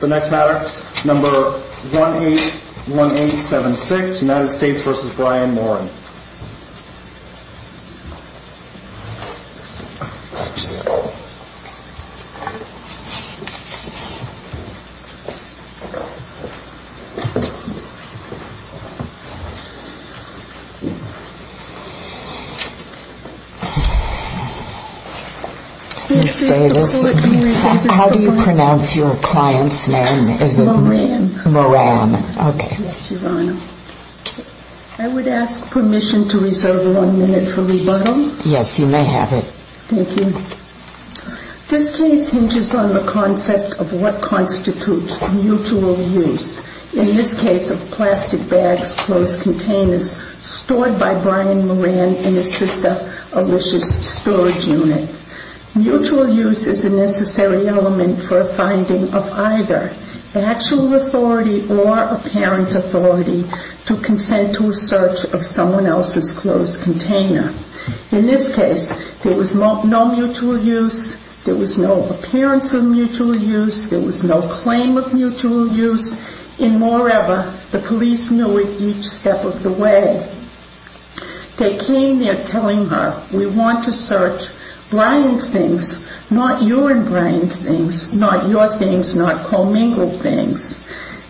The next matter, number 181876, United States v. Brian Moran Ms. Davis, how do you pronounce your client's name? Moran I would ask permission to reserve one minute for rebuttal. Ms. Davis Yes, you may have it. Ms. Davis Thank you. This case hinges on the concept of what constitutes mutual use, in this case of plastic bags, closed containers, stored by Brian Moran in his sister Alicia's storage unit. Mutual use is a necessary element for a finding of either actual authority or apparent authority to consent to a search of someone else's closed container. In this case, there was no mutual use, there was no appearance of mutual use, there was no claim of mutual use, and moreover, the police knew it each step of the way. They came there telling her, we want to search Brian's things, not your and Brian's things, not your things, not commingled things.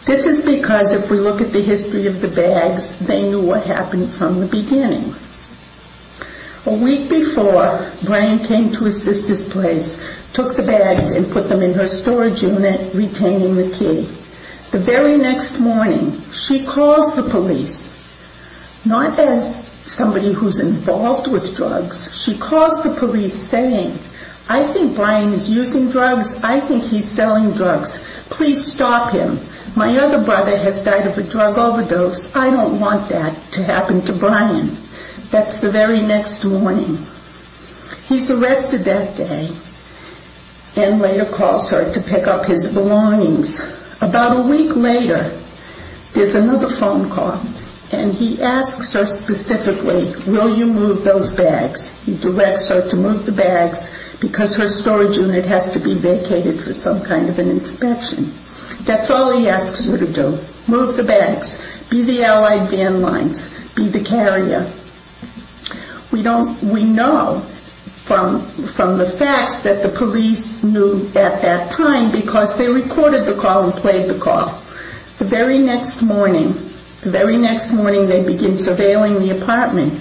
This is because if we look at the history of the bags, they knew what happened from the beginning. A week before, Brian came to his sister's place, took the bags and put them in her storage unit, retaining the key. The very next morning, she calls the police, not as somebody who I think Brian is using drugs, I think he's selling drugs. Please stop him. My other brother has died of a drug overdose. I don't want that to happen to Brian. That's the very next morning. He's arrested that day, and later calls her to pick up his belongings. About a week later, there's another phone call, and he asks her specifically, will you move those bags? He directs her to move the bags because her storage unit has to be vacated for some kind of an inspection. That's all he asks her to do, move the bags, be the allied van lines, be the carrier. We know from the facts that the police knew at that time because they recorded the call and played the call. The very next morning, the very next morning they begin surveilling the apartment.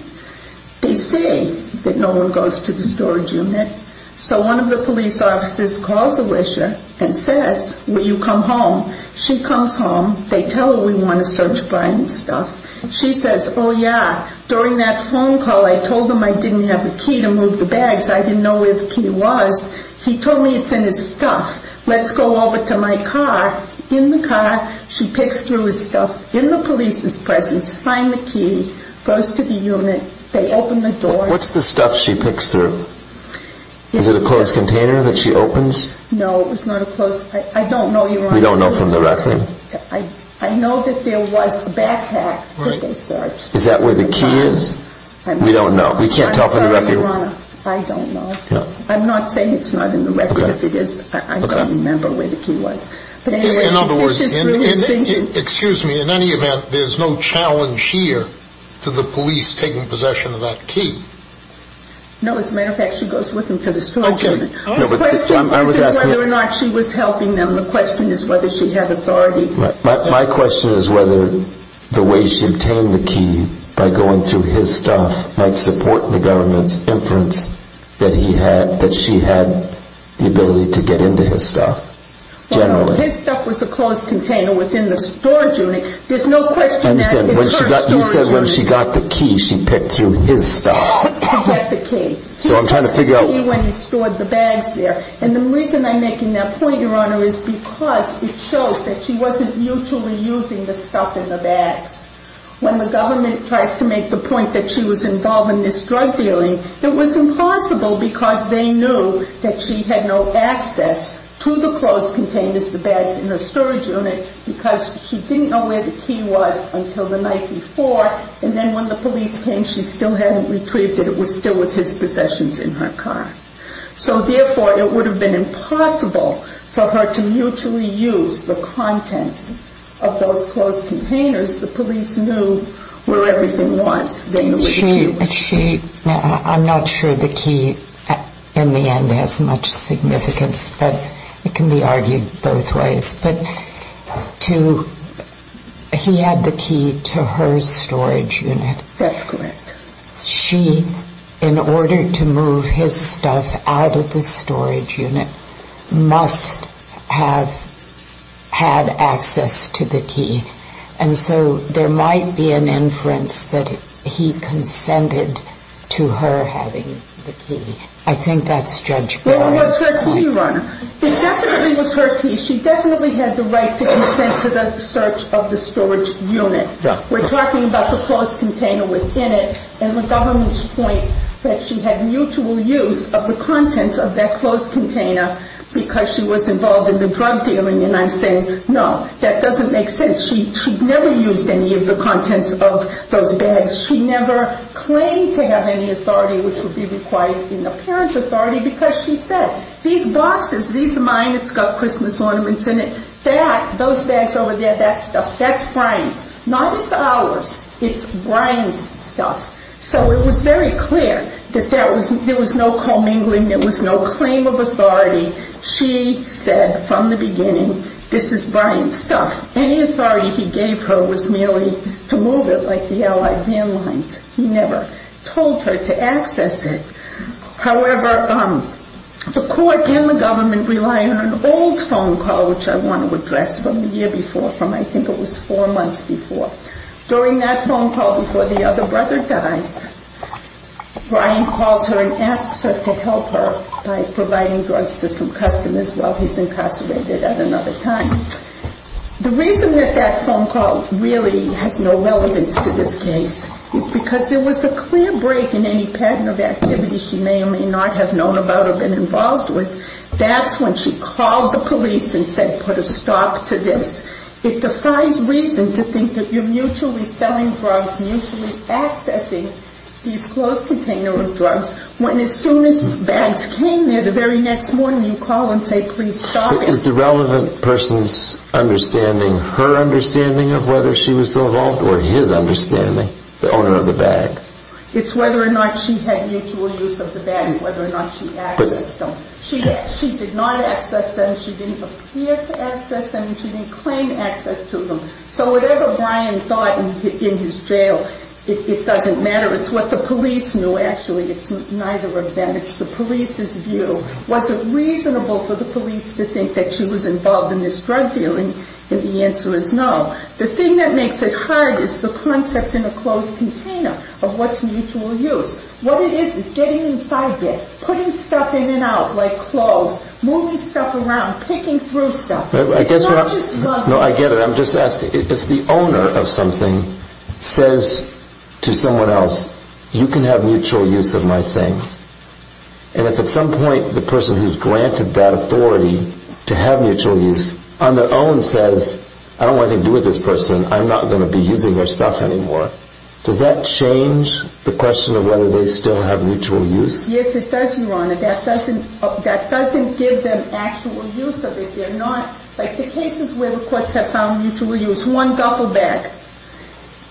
They see that no one goes to the storage unit, so one of the police officers calls Alicia and says, will you come home? She comes home. They tell her we want to search Brian's stuff. She says, oh, yeah. During that phone call, I told him I didn't have the key to move the bags. I didn't know where the key was. He told me it's in his stuff. Let's go over to my car. In the car, she picks through his stuff, finds the key, goes to the unit. They open the door. What's the stuff she picks through? Is it a closed container that she opens? No, it's not a closed container. I don't know, Your Honor. You don't know from the record? I know that there was a backpack that they searched. Is that where the key is? We don't know. We can't tell from the record. I'm sorry, Your Honor. I don't know. I'm not saying it's not in the record because I don't remember where the key was. In other words, excuse me, in any event, there's no challenge here to the police taking possession of that key? No, as a matter of fact, she goes with him to the store. Okay. The question wasn't whether or not she was helping them. The question is whether she had authority. My question is whether the way she obtained the key by going through his stuff might support the government's inference that she had the ability to get into his stuff generally. Well, his stuff was a closed container within the storage unit. There's no question that it's her storage unit. You said when she got the key, she picked through his stuff. She got the key. So I'm trying to figure out... She got the key when he stored the bags there. And the reason I'm making that point, Your Honor, is because it shows that she wasn't mutually using the stuff in the bags. When the government tries to make the point that she was involved in this drug dealing, it was impossible because they knew that she had no access to the closed containers, the bags in her storage unit, because she didn't know where the key was until the night before. And then when the police came, she still hadn't retrieved it. It was still with his possessions in her car. So therefore, it would have been impossible for her to mutually use the contents of those closed containers. The police knew where everything was. I'm not sure the key in the end has much significance, but it can be argued both ways. But he had the key to her storage unit. That's correct. She, in order to move his stuff out of the storage unit, must have had access to the storage unit. And so there might be an inference that he consented to her having the key. I think that's Judge Garland's point. It was her key, Your Honor. It definitely was her key. She definitely had the right to consent to the search of the storage unit. Yeah. We're talking about the closed container within it. And the government's point that she had mutual use of the contents of that closed container because she was involved in the drug dealing. And I'm saying, no, that doesn't make sense. She never used any of the contents of those bags. She never claimed to have any authority which would be required, you know, parent authority because she said, these boxes, these are mine. It's got Christmas ornaments in it. That, those bags over there, that stuff, that's Brian's. Not it's ours. It's Brian's stuff. So it was very clear that there was no commingling. There was no claim of authority. She said from the beginning, this is Brian's stuff. Any authority he gave her was merely to move it like the allied van lines. He never told her to access it. However, the court and the government rely on an old phone call which I want to address from the year before, from I think it was four months before. During that phone call before the other brother dies, Brian calls her and asks her to help her by providing drugs to some customers while he's incarcerated at another time. The reason that that phone call really has no relevance to this case is because there was a clear break in any pattern of activity she may or may not have known about or been involved with. That's when she called the police and said put a stop to this. It defies reason to think that you're mutually selling drugs, mutually accessing these closed container of drugs, when as soon as bags came there the very next morning you call and say please stop it. Is the relevant person's understanding her understanding of whether she was involved or his understanding, the owner of the bag? It's whether or not she had mutual use of the bags, whether or not she accessed them. She did not access them. She didn't appear to access them. She didn't claim access to them. So whatever Brian thought in his jail, it doesn't matter. It's what the police knew. Actually, it's neither of that. It's the police's view. Was it reasonable for the police to think that she was involved in this drug deal? And the answer is no. The thing that makes it hard is the concept in a closed container of what's mutual use. What it is is getting inside there, putting stuff in and out like clothes, moving stuff around, picking through stuff. I guess what I'm saying, I get it. I'm just asking, if the owner of something says to have mutual use of my thing, and if at some point the person who's granted that authority to have mutual use on their own says I don't want anything to do with this person, I'm not going to be using their stuff anymore, does that change the question of whether they still have mutual use? Yes, it does, Your Honor. That doesn't give them actual use of it. They're not, like the cases where the courts have found mutual use, one duffel bag,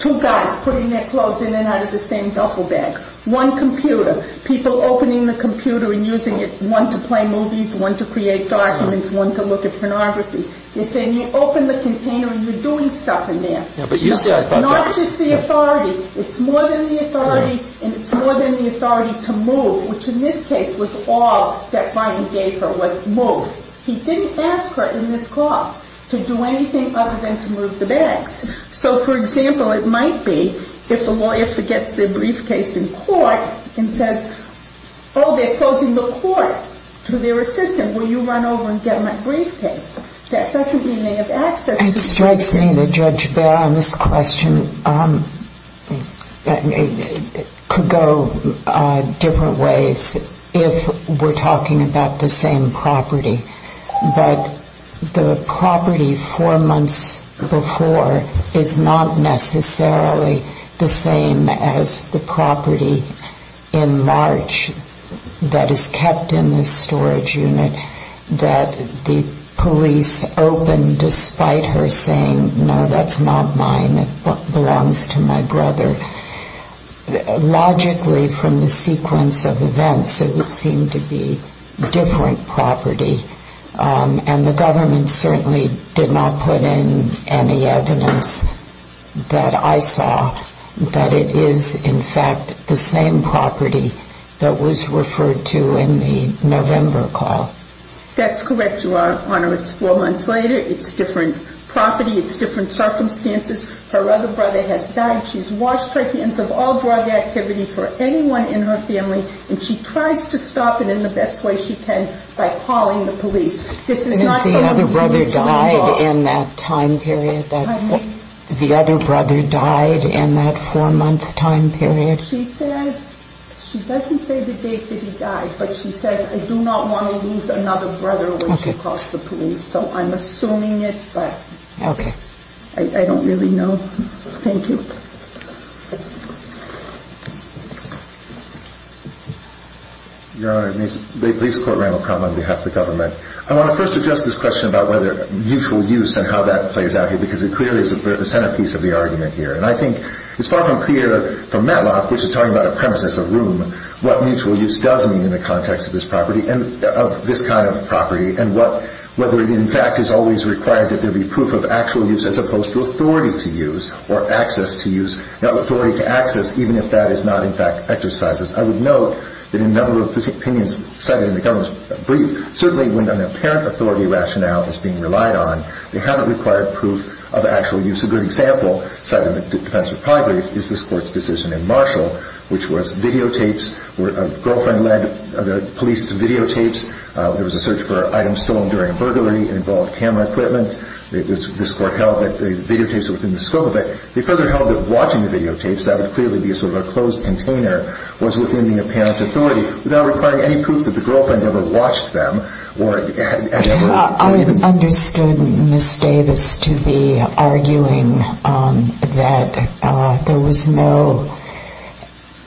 two guys putting their clothes in and out of the same duffel bag, one computer, people opening the computer and using it, one to play movies, one to create documents, one to look at pornography. You're saying you open the container and you're doing stuff in there. Yeah, but usually I thought that. Not just the authority. It's more than the authority, and it's more than the authority to move, which in this case was all that Brian gave her was move. He didn't ask her in this So, for example, it might be if a lawyer forgets their briefcase in court and says, oh, they're closing the court to their assistant, will you run over and get my briefcase? That doesn't mean they have access to their assistant. It strikes me that Judge Bell on this question could go different ways if we're talking about the same property. But the property four months before is not necessarily the same as the property in March that is kept in this storage unit that the police opened despite her saying, no, that's not mine. It belongs to my brother. Logically, from the sequence of events, it would seem to be different property, and the government certainly did not put in any evidence that I saw that it is, in fact, the same property that was referred to in the November call. That's correct, Your Honor. It's four months later. It's different property. It's different activity for anyone in her family, and she tries to stop it in the best way she can by calling the police. And if the other brother died in that time period, the other brother died in that four-month time period? She says, she doesn't say the date that he died, but she says, I do not want to lose another brother when she calls the police. So I'm assuming it, but I don't really know. Thank you. Your Honor, may I please quote Randall Crum on behalf of the government? I want to first address this question about whether mutual use and how that plays out here, because it clearly is the centerpiece of the argument here. And I think it's far from clear from Matlock, which is talking about a premise as a room, what mutual use does mean in the context of this property, of this kind of property, and whether it, in fact, is always required that there be proof of actual use as opposed to authority to use or access to use, not authority to access, even if that is not, in fact, exercised. I would note that in a number of opinions cited in the government's brief, certainly when an apparent authority rationale is being relied on, they haven't required proof of actual use. A good example cited in the defense of property is this Court's decision in Marshall, which was videotapes, where a girlfriend led the police to videotapes. There was a search for items stolen during a burglary. It involved camera equipment. This Court held that the videotapes were within the scope of it. They further held that watching the videotapes, that would clearly be a sort of a closed container, was within the apparent authority, without requiring any proof that the girlfriend ever watched them or had ever... I understood Ms. Davis to be arguing that there was no...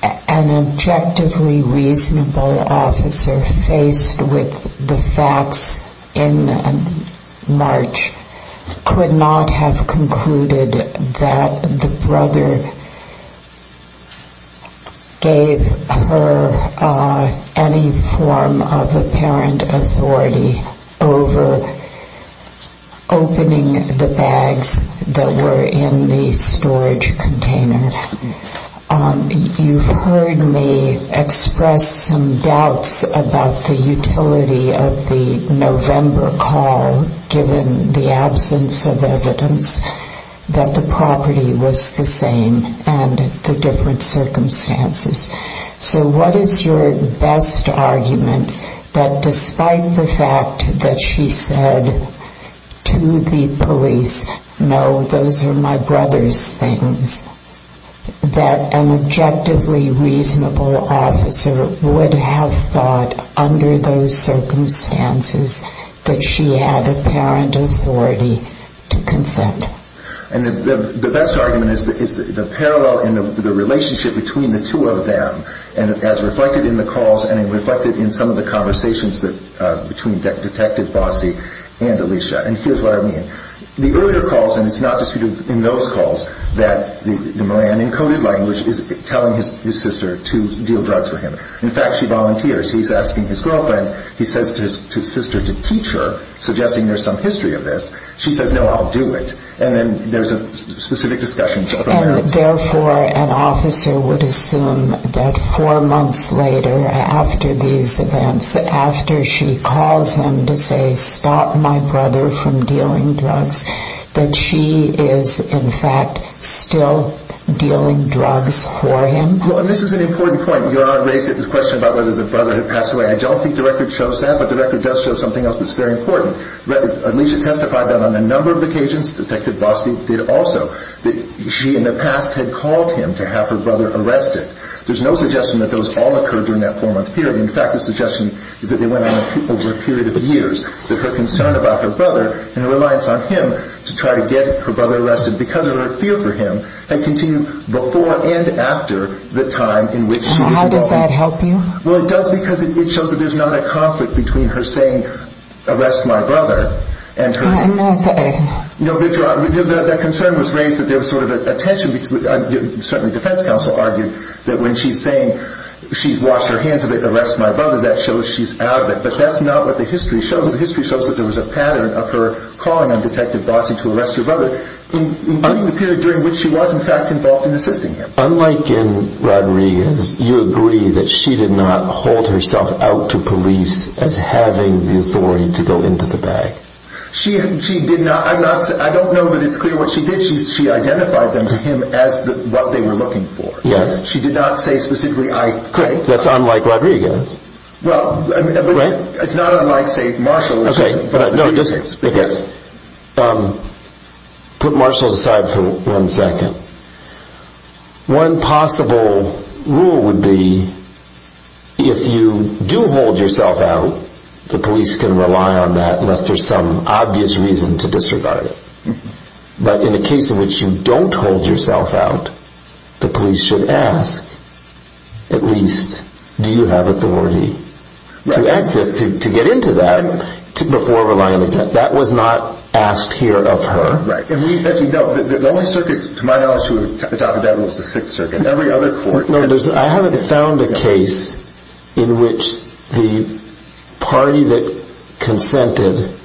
an objectively reasonable reason that the officer faced with the facts in March could not have concluded that the brother gave her any form of apparent authority over opening the bags that were in the storage container. You've heard me express some doubts about the utility of the November call, given the absence of evidence, that the property was the same and the different circumstances. So what is your best argument that despite the fact that she said to the police, no, those are my brother's things, that an objectively reasonable officer would have thought under those circumstances that she had apparent authority to consent? And the best argument is the parallel in the relationship between the two of them, as reflected in the calls and reflected in some of the conversations between Detective Bossy and that the Moran encoded language is telling his sister to deal drugs with him. In fact, she volunteers. He's asking his girlfriend, he says to his sister to teach her, suggesting there's some history of this. She says, no, I'll do it. And then there's a specific discussion. And therefore, an officer would assume that four months later, after these events, after she is in fact still dealing drugs for him. And this is an important point. Your Honor raised the question about whether the brother had passed away. I don't think the record shows that, but the record does show something else that's very important. Alicia testified that on a number of occasions, Detective Bossy did also, that she in the past had called him to have her brother arrested. There's no suggestion that those all occurred during that four-month period. In fact, the suggestion is that they went on over a period of years, that her concern about her brother and her reliance on him to try to get her brother arrested because of her fear for him, had continued before and after the time in which she was involved. Now, how does that help you? Well, it does because it shows that there's not a conflict between her saying, arrest my brother, and her I'm not saying. No, Victor, that concern was raised that there was sort of a tension, certainly defense counsel argued, that when she's saying, she's washed her hands of it, arrest my brother, that shows she's out of it. But that's not what the history shows. The history shows that there was a pattern of her calling on Detective Bossy to arrest her brother, including the period during which she was, in fact, involved in assisting him. Unlike in Rodriguez, you agree that she did not hold herself out to police as having the authority to go into the bag. She did not. I'm not. I don't know that it's clear what she did. She identified them to him as what they were looking for. Yes. She did not say specifically I. Correct. That's unlike Rodriguez. Well, it's not unlike, say, Marshall. Okay, but I guess, put Marshall aside for one second. One possible rule would be, if you do hold yourself out, the police can rely on that unless there's some obvious reason to disregard it. But in a case in which you don't hold yourself out, the police should ask, at least, do you have authority to access, to get into that before relying on it. That was not asked here of her. Right. And we, as you know, the only circuit, to my knowledge, to the top of that was the 6th Circuit. No, I haven't found a case in which the party that consented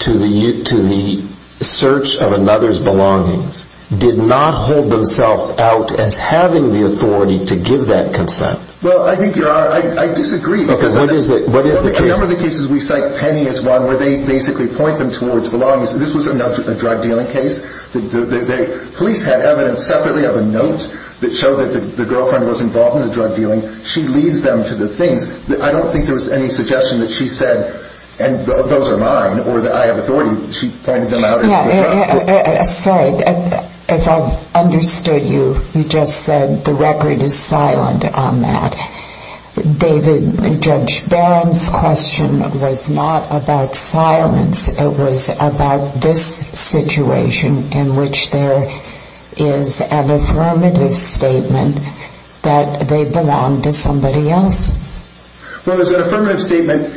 to the search of another's belongings did not hold themselves out as having the authority to give that consent. Well, I think, Your Honor, I disagree. Because what is it? A number of the cases we cite, Penny is one where they basically point them towards belongings. This was a drug dealing case. The police had evidence separately of a note that showed that the girlfriend was involved in the drug dealing. She leads them to the things. I don't think there was any suggestion that she said, and those are mine, or that I have authority. She pointed them out. Yeah. Sorry. If I've understood you, you just said the record is silent on that. David, Judge Barron's question was not about silence. It was about this situation in which there is an affirmative statement that they belong to somebody else. Well, there's an affirmative statement.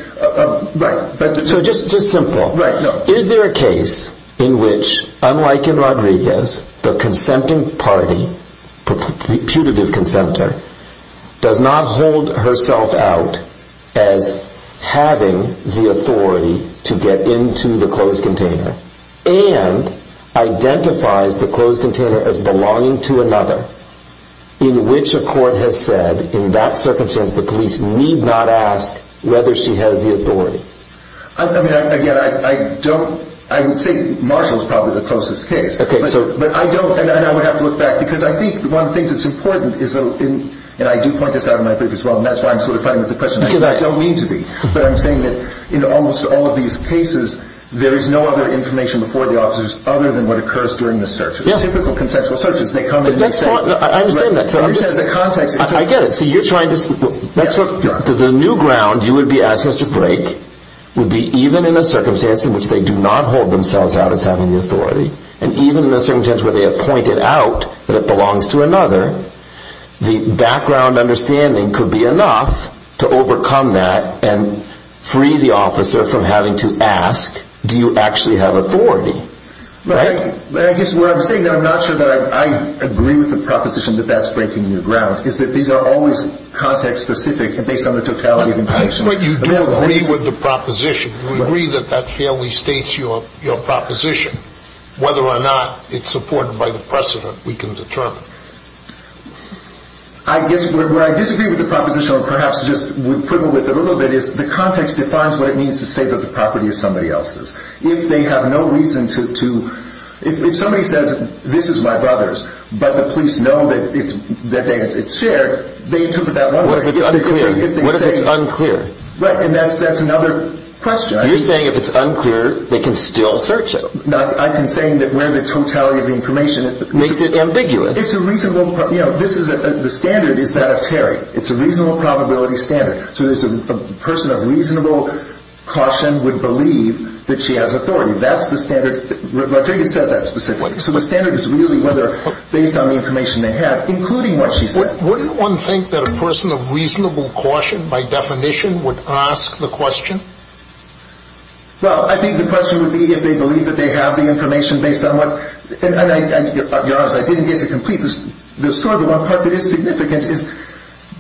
Right. So just simple. Right. the consenting party, putative consenter, does not hold herself out as having the authority to get into the closed container, and identifies the closed container as belonging to another, in which a court has said, in that circumstance, the police need not ask whether she has the authority. Again, I don't, I would say Marshall's probably the closest case. Okay. But I don't, and I would have to look back, because I think one of the things that's important is that, and I do point this out in my book as well, and that's why I'm sort of fighting with the question. I don't mean to be, but I'm saying that in almost all of these cases, there is no other information before the officers other than what occurs during the search. Typical consensual searches, they come and they say. That's fine. I understand that. I understand the context. I get it. The new ground you would be asking us to break would be, even in a circumstance in which they do not hold themselves out as having the authority, and even in a circumstance where they have pointed out that it belongs to another, the background understanding could be enough to overcome that and free the officer from having to ask, do you actually have authority? Right? But I guess what I'm saying, I'm not sure that I agree with the proposition that that's breaking new ground, is that these are always context-specific and based on the totality of information. But you do agree with the proposition. You agree that that fairly states your proposition. Whether or not it's supported by the precedent, we can determine. I guess where I disagree with the proposition, or perhaps just would quibble with it a little bit, is the context defines what it means to say that the property is somebody else's. If they have no reason to, if somebody says, this is my brother's, but the police know that it's shared, they interpret that one way. What if it's unclear? Right. And that's another question. You're saying if it's unclear, they can still search it. I'm saying that where the totality of the information. Makes it ambiguous. It's a reasonable, you know, the standard is that of Terry. It's a reasonable probability standard. So there's a person of reasonable caution would believe that she has authority. That's the standard. Rodriguez says that specifically. So the standard is really whether, based on the information they have, including what she said. Wouldn't one think that a person of reasonable caution, by definition, would ask the question? Well, I think the question would be if they believe that they have the information based on what, and you're honest, I didn't get to complete the story. The one part that is significant is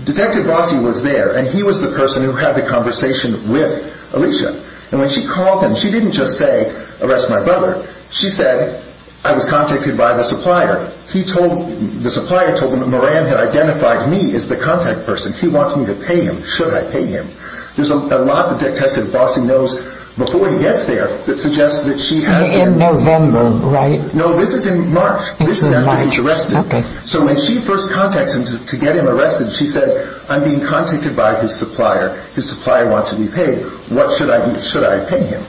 Detective Rossi was there, and he was the person who had the conversation with Alicia. And when she called him, she didn't just say, arrest my brother. She said, I was contacted by the supplier. He told, the supplier told him that Moran had identified me as the contact person. He wants me to pay him. Should I pay him? There's a lot that Detective Rossi knows before he gets there that suggests that she has. In November, right? No, this is in March. This is after he's arrested. Okay. So when she first contacts him to get him arrested, she said, I'm being contacted by his supplier. His supplier wants to be paid. What should I do? Should I pay him?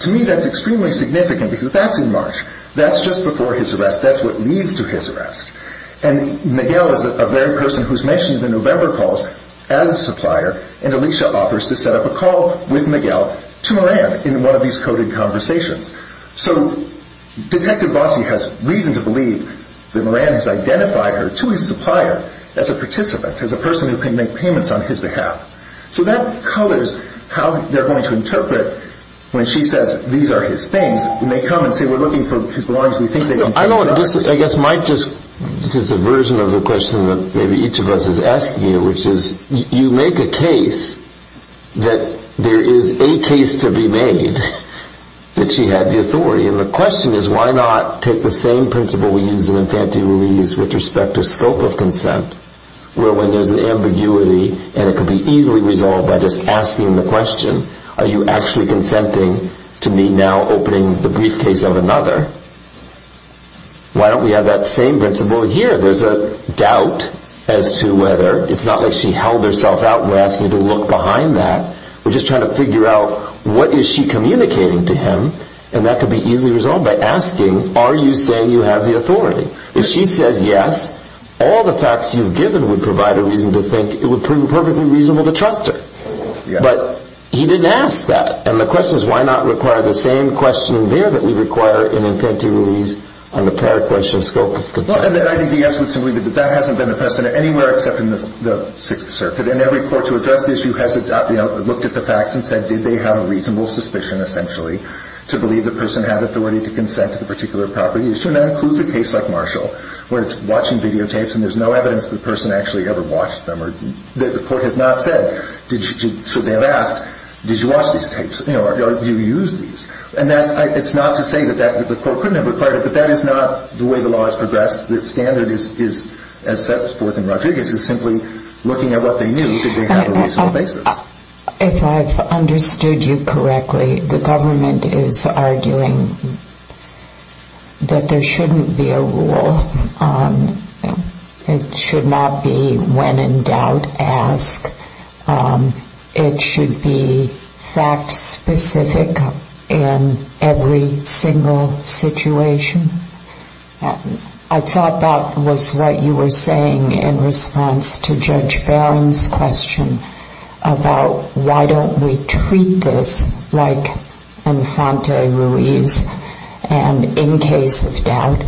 To me, that's extremely significant because that's in March. That's just before his arrest. That's what leads to his arrest. And Miguel is the very person who's mentioned in the November calls as a supplier, and Alicia offers to set up a call with Miguel to Moran in one of these coded conversations. So Detective Rossi has reason to believe that Moran has identified her to his supplier as a participant, as a person who can make payments on his behalf. So that colors how they're going to interpret when she says, these are his things, and they come and say, we're looking for his belongings. We think they can take them. I guess this is a version of the question that maybe each of us is asking you, which is, you make a case that there is a case to be made that she had the authority. And the question is, why not take the same principle we use in infantile release with respect to scope of consent, where when there's an ambiguity and it could be easily resolved by just asking the question, are you actually consenting to me now opening the briefcase of another? Why don't we have that same principle here? There's a doubt as to whether it's not like she held herself out and we're asking her to look behind that. We're just trying to figure out what is she communicating to him, and that could be easily resolved by asking, are you saying you have the authority? If she says yes, all the facts you've given would provide a reason to think it would prove perfectly reasonable to trust her. But he didn't ask that, and the question is, why not require the same question there that we require in infantile release on the prior question of scope of consent? And then I think the answer would simply be that that hasn't been the precedent anywhere except in the Sixth Circuit, and every court to address the issue has looked at the facts and said, did they have a reasonable suspicion, essentially, to believe the person had authority to consent to the particular property issue? And that includes a case like Marshall, where it's watching videotapes and there's no evidence that the person actually ever watched them. The court has not said, should they have asked, did you watch these tapes, or do you use these? And it's not to say that the court couldn't have required it, but that is not the way the law has progressed. The standard is, as set forth in Rodriguez, is simply looking at what they knew, did they have a reasonable basis? If I've understood you correctly, the government is arguing that there shouldn't be a rule. It should not be when in doubt, ask. It should be fact-specific in every single situation. I thought that was what you were saying in response to Judge Barron's question about why don't we treat this like enfante ruis, and in case of doubt,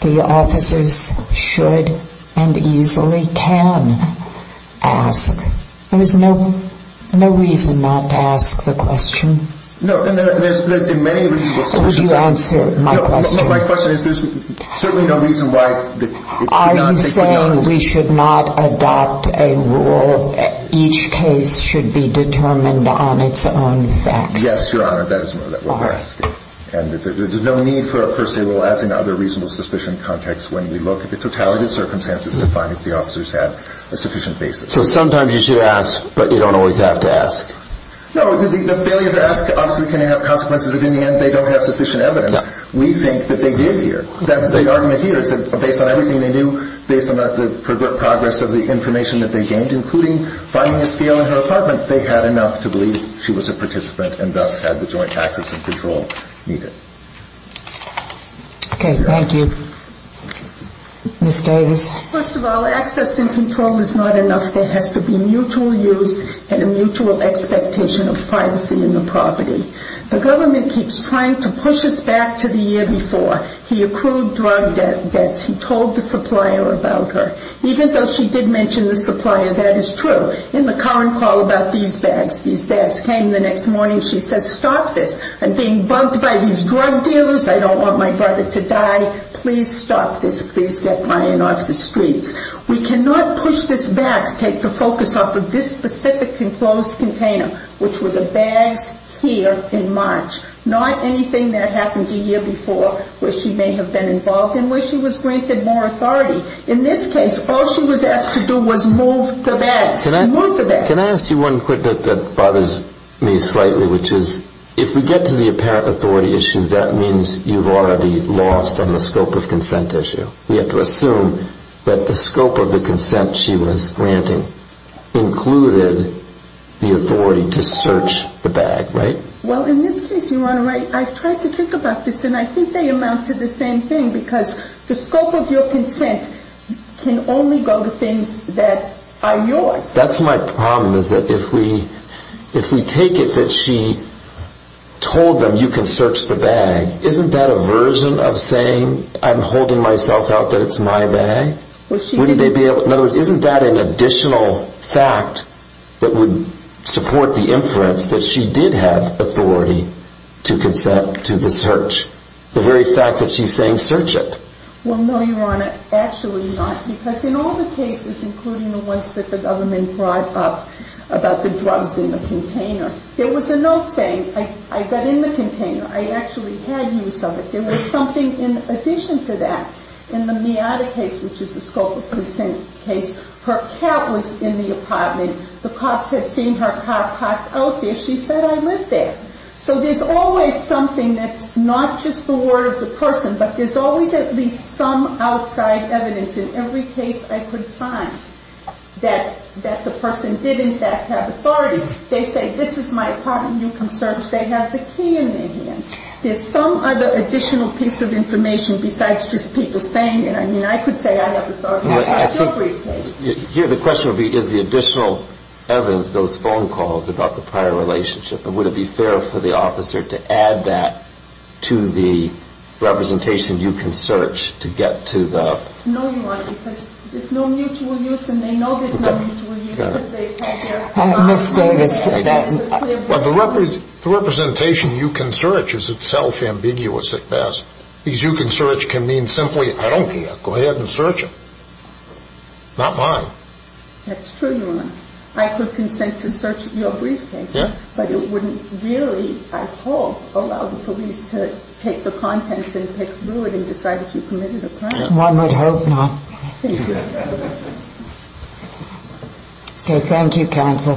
the officers should and easily can ask. There was no reason not to ask the question. Would you answer my question? My question is, there's certainly no reason why it could not be done. Are you saying we should not adopt a rule, each case should be determined on its own facts? Yes, Your Honor, that is what we're asking. And there's no need for a per se rule, as in other reasonable suspicion contexts, when we look at the totality of circumstances to find if the officers have a sufficient basis. So sometimes you should ask, but you don't always have to ask. No, the failure to ask obviously can have consequences if in the end they don't have sufficient evidence. We think that they did here. The argument here is that based on everything they knew, based on the progress of the information that they gained, including finding a scale in her apartment, they had enough to believe she was a participant and thus had the joint access and control needed. Okay, thank you. Ms. Davis. First of all, access and control is not enough. There has to be mutual use and a mutual expectation of privacy in the property. The government keeps trying to push us back to the year before. He accrued drug debts. He told the supplier about her. Even though she did mention the supplier, that is true. In the current call about these bags, these bags came the next morning. She says, stop this. I'm being bugged by these drug dealers. I don't want my brother to die. Please stop this. Please get Ryan off the streets. We cannot push this back, take the focus off of this specific enclosed container, which were the bags here in March. Not anything that happened a year before where she may have been involved in, where she was granted more authority. In this case, all she was asked to do was move the bags. Can I ask you one quick that bothers me slightly, which is if we get to the apparent authority issue, that means you've already lost on the scope of consent issue. We have to assume that the scope of the consent she was granting included the authority to search the bag, right? Well, in this case, you're right. I've tried to think about this, and I think they amount to the same thing because the scope of your consent can only go to things that are yours. That's my problem is that if we take it that she told them you can search the bag, isn't that a version of saying I'm holding myself out that it's my bag? In other words, isn't that an additional fact that would support the inference that she did have authority to consent to the search, the very fact that she's saying search it? Well, no, Your Honor, actually not. Because in all the cases, including the ones that the government brought up about the drugs in the container, there was a note saying I got in the container. I actually had use of it. There was something in addition to that. In the Miata case, which is the scope of consent case, her cat was in the apartment. The cops had seen her car parked out there. She said, I live there. So there's always something that's not just the word of the person, but there's always at least some outside evidence in every case I could find that the person did in fact have authority. They say this is my apartment. You can search. They have the key in their hand. There's some other additional piece of information besides just people saying it. I mean, I could say I have authority in every case. Here the question would be is the additional evidence, those phone calls about the prior relationship, would it be fair for the officer to add that to the representation you can search to get to the? No, Your Honor, because there's no mutual use, and they know there's no mutual use. Ms. Davis. The representation you can search is itself ambiguous at best. Because you can search can mean simply I don't care. Go ahead and search it. Not mine. That's true, Your Honor. I could consent to search your briefcase. Yeah. But it wouldn't really, I hope, allow the police to take the contents and pick through it and decide that you committed a crime. One would hope not. Thank you. Okay. Thank you, counsel.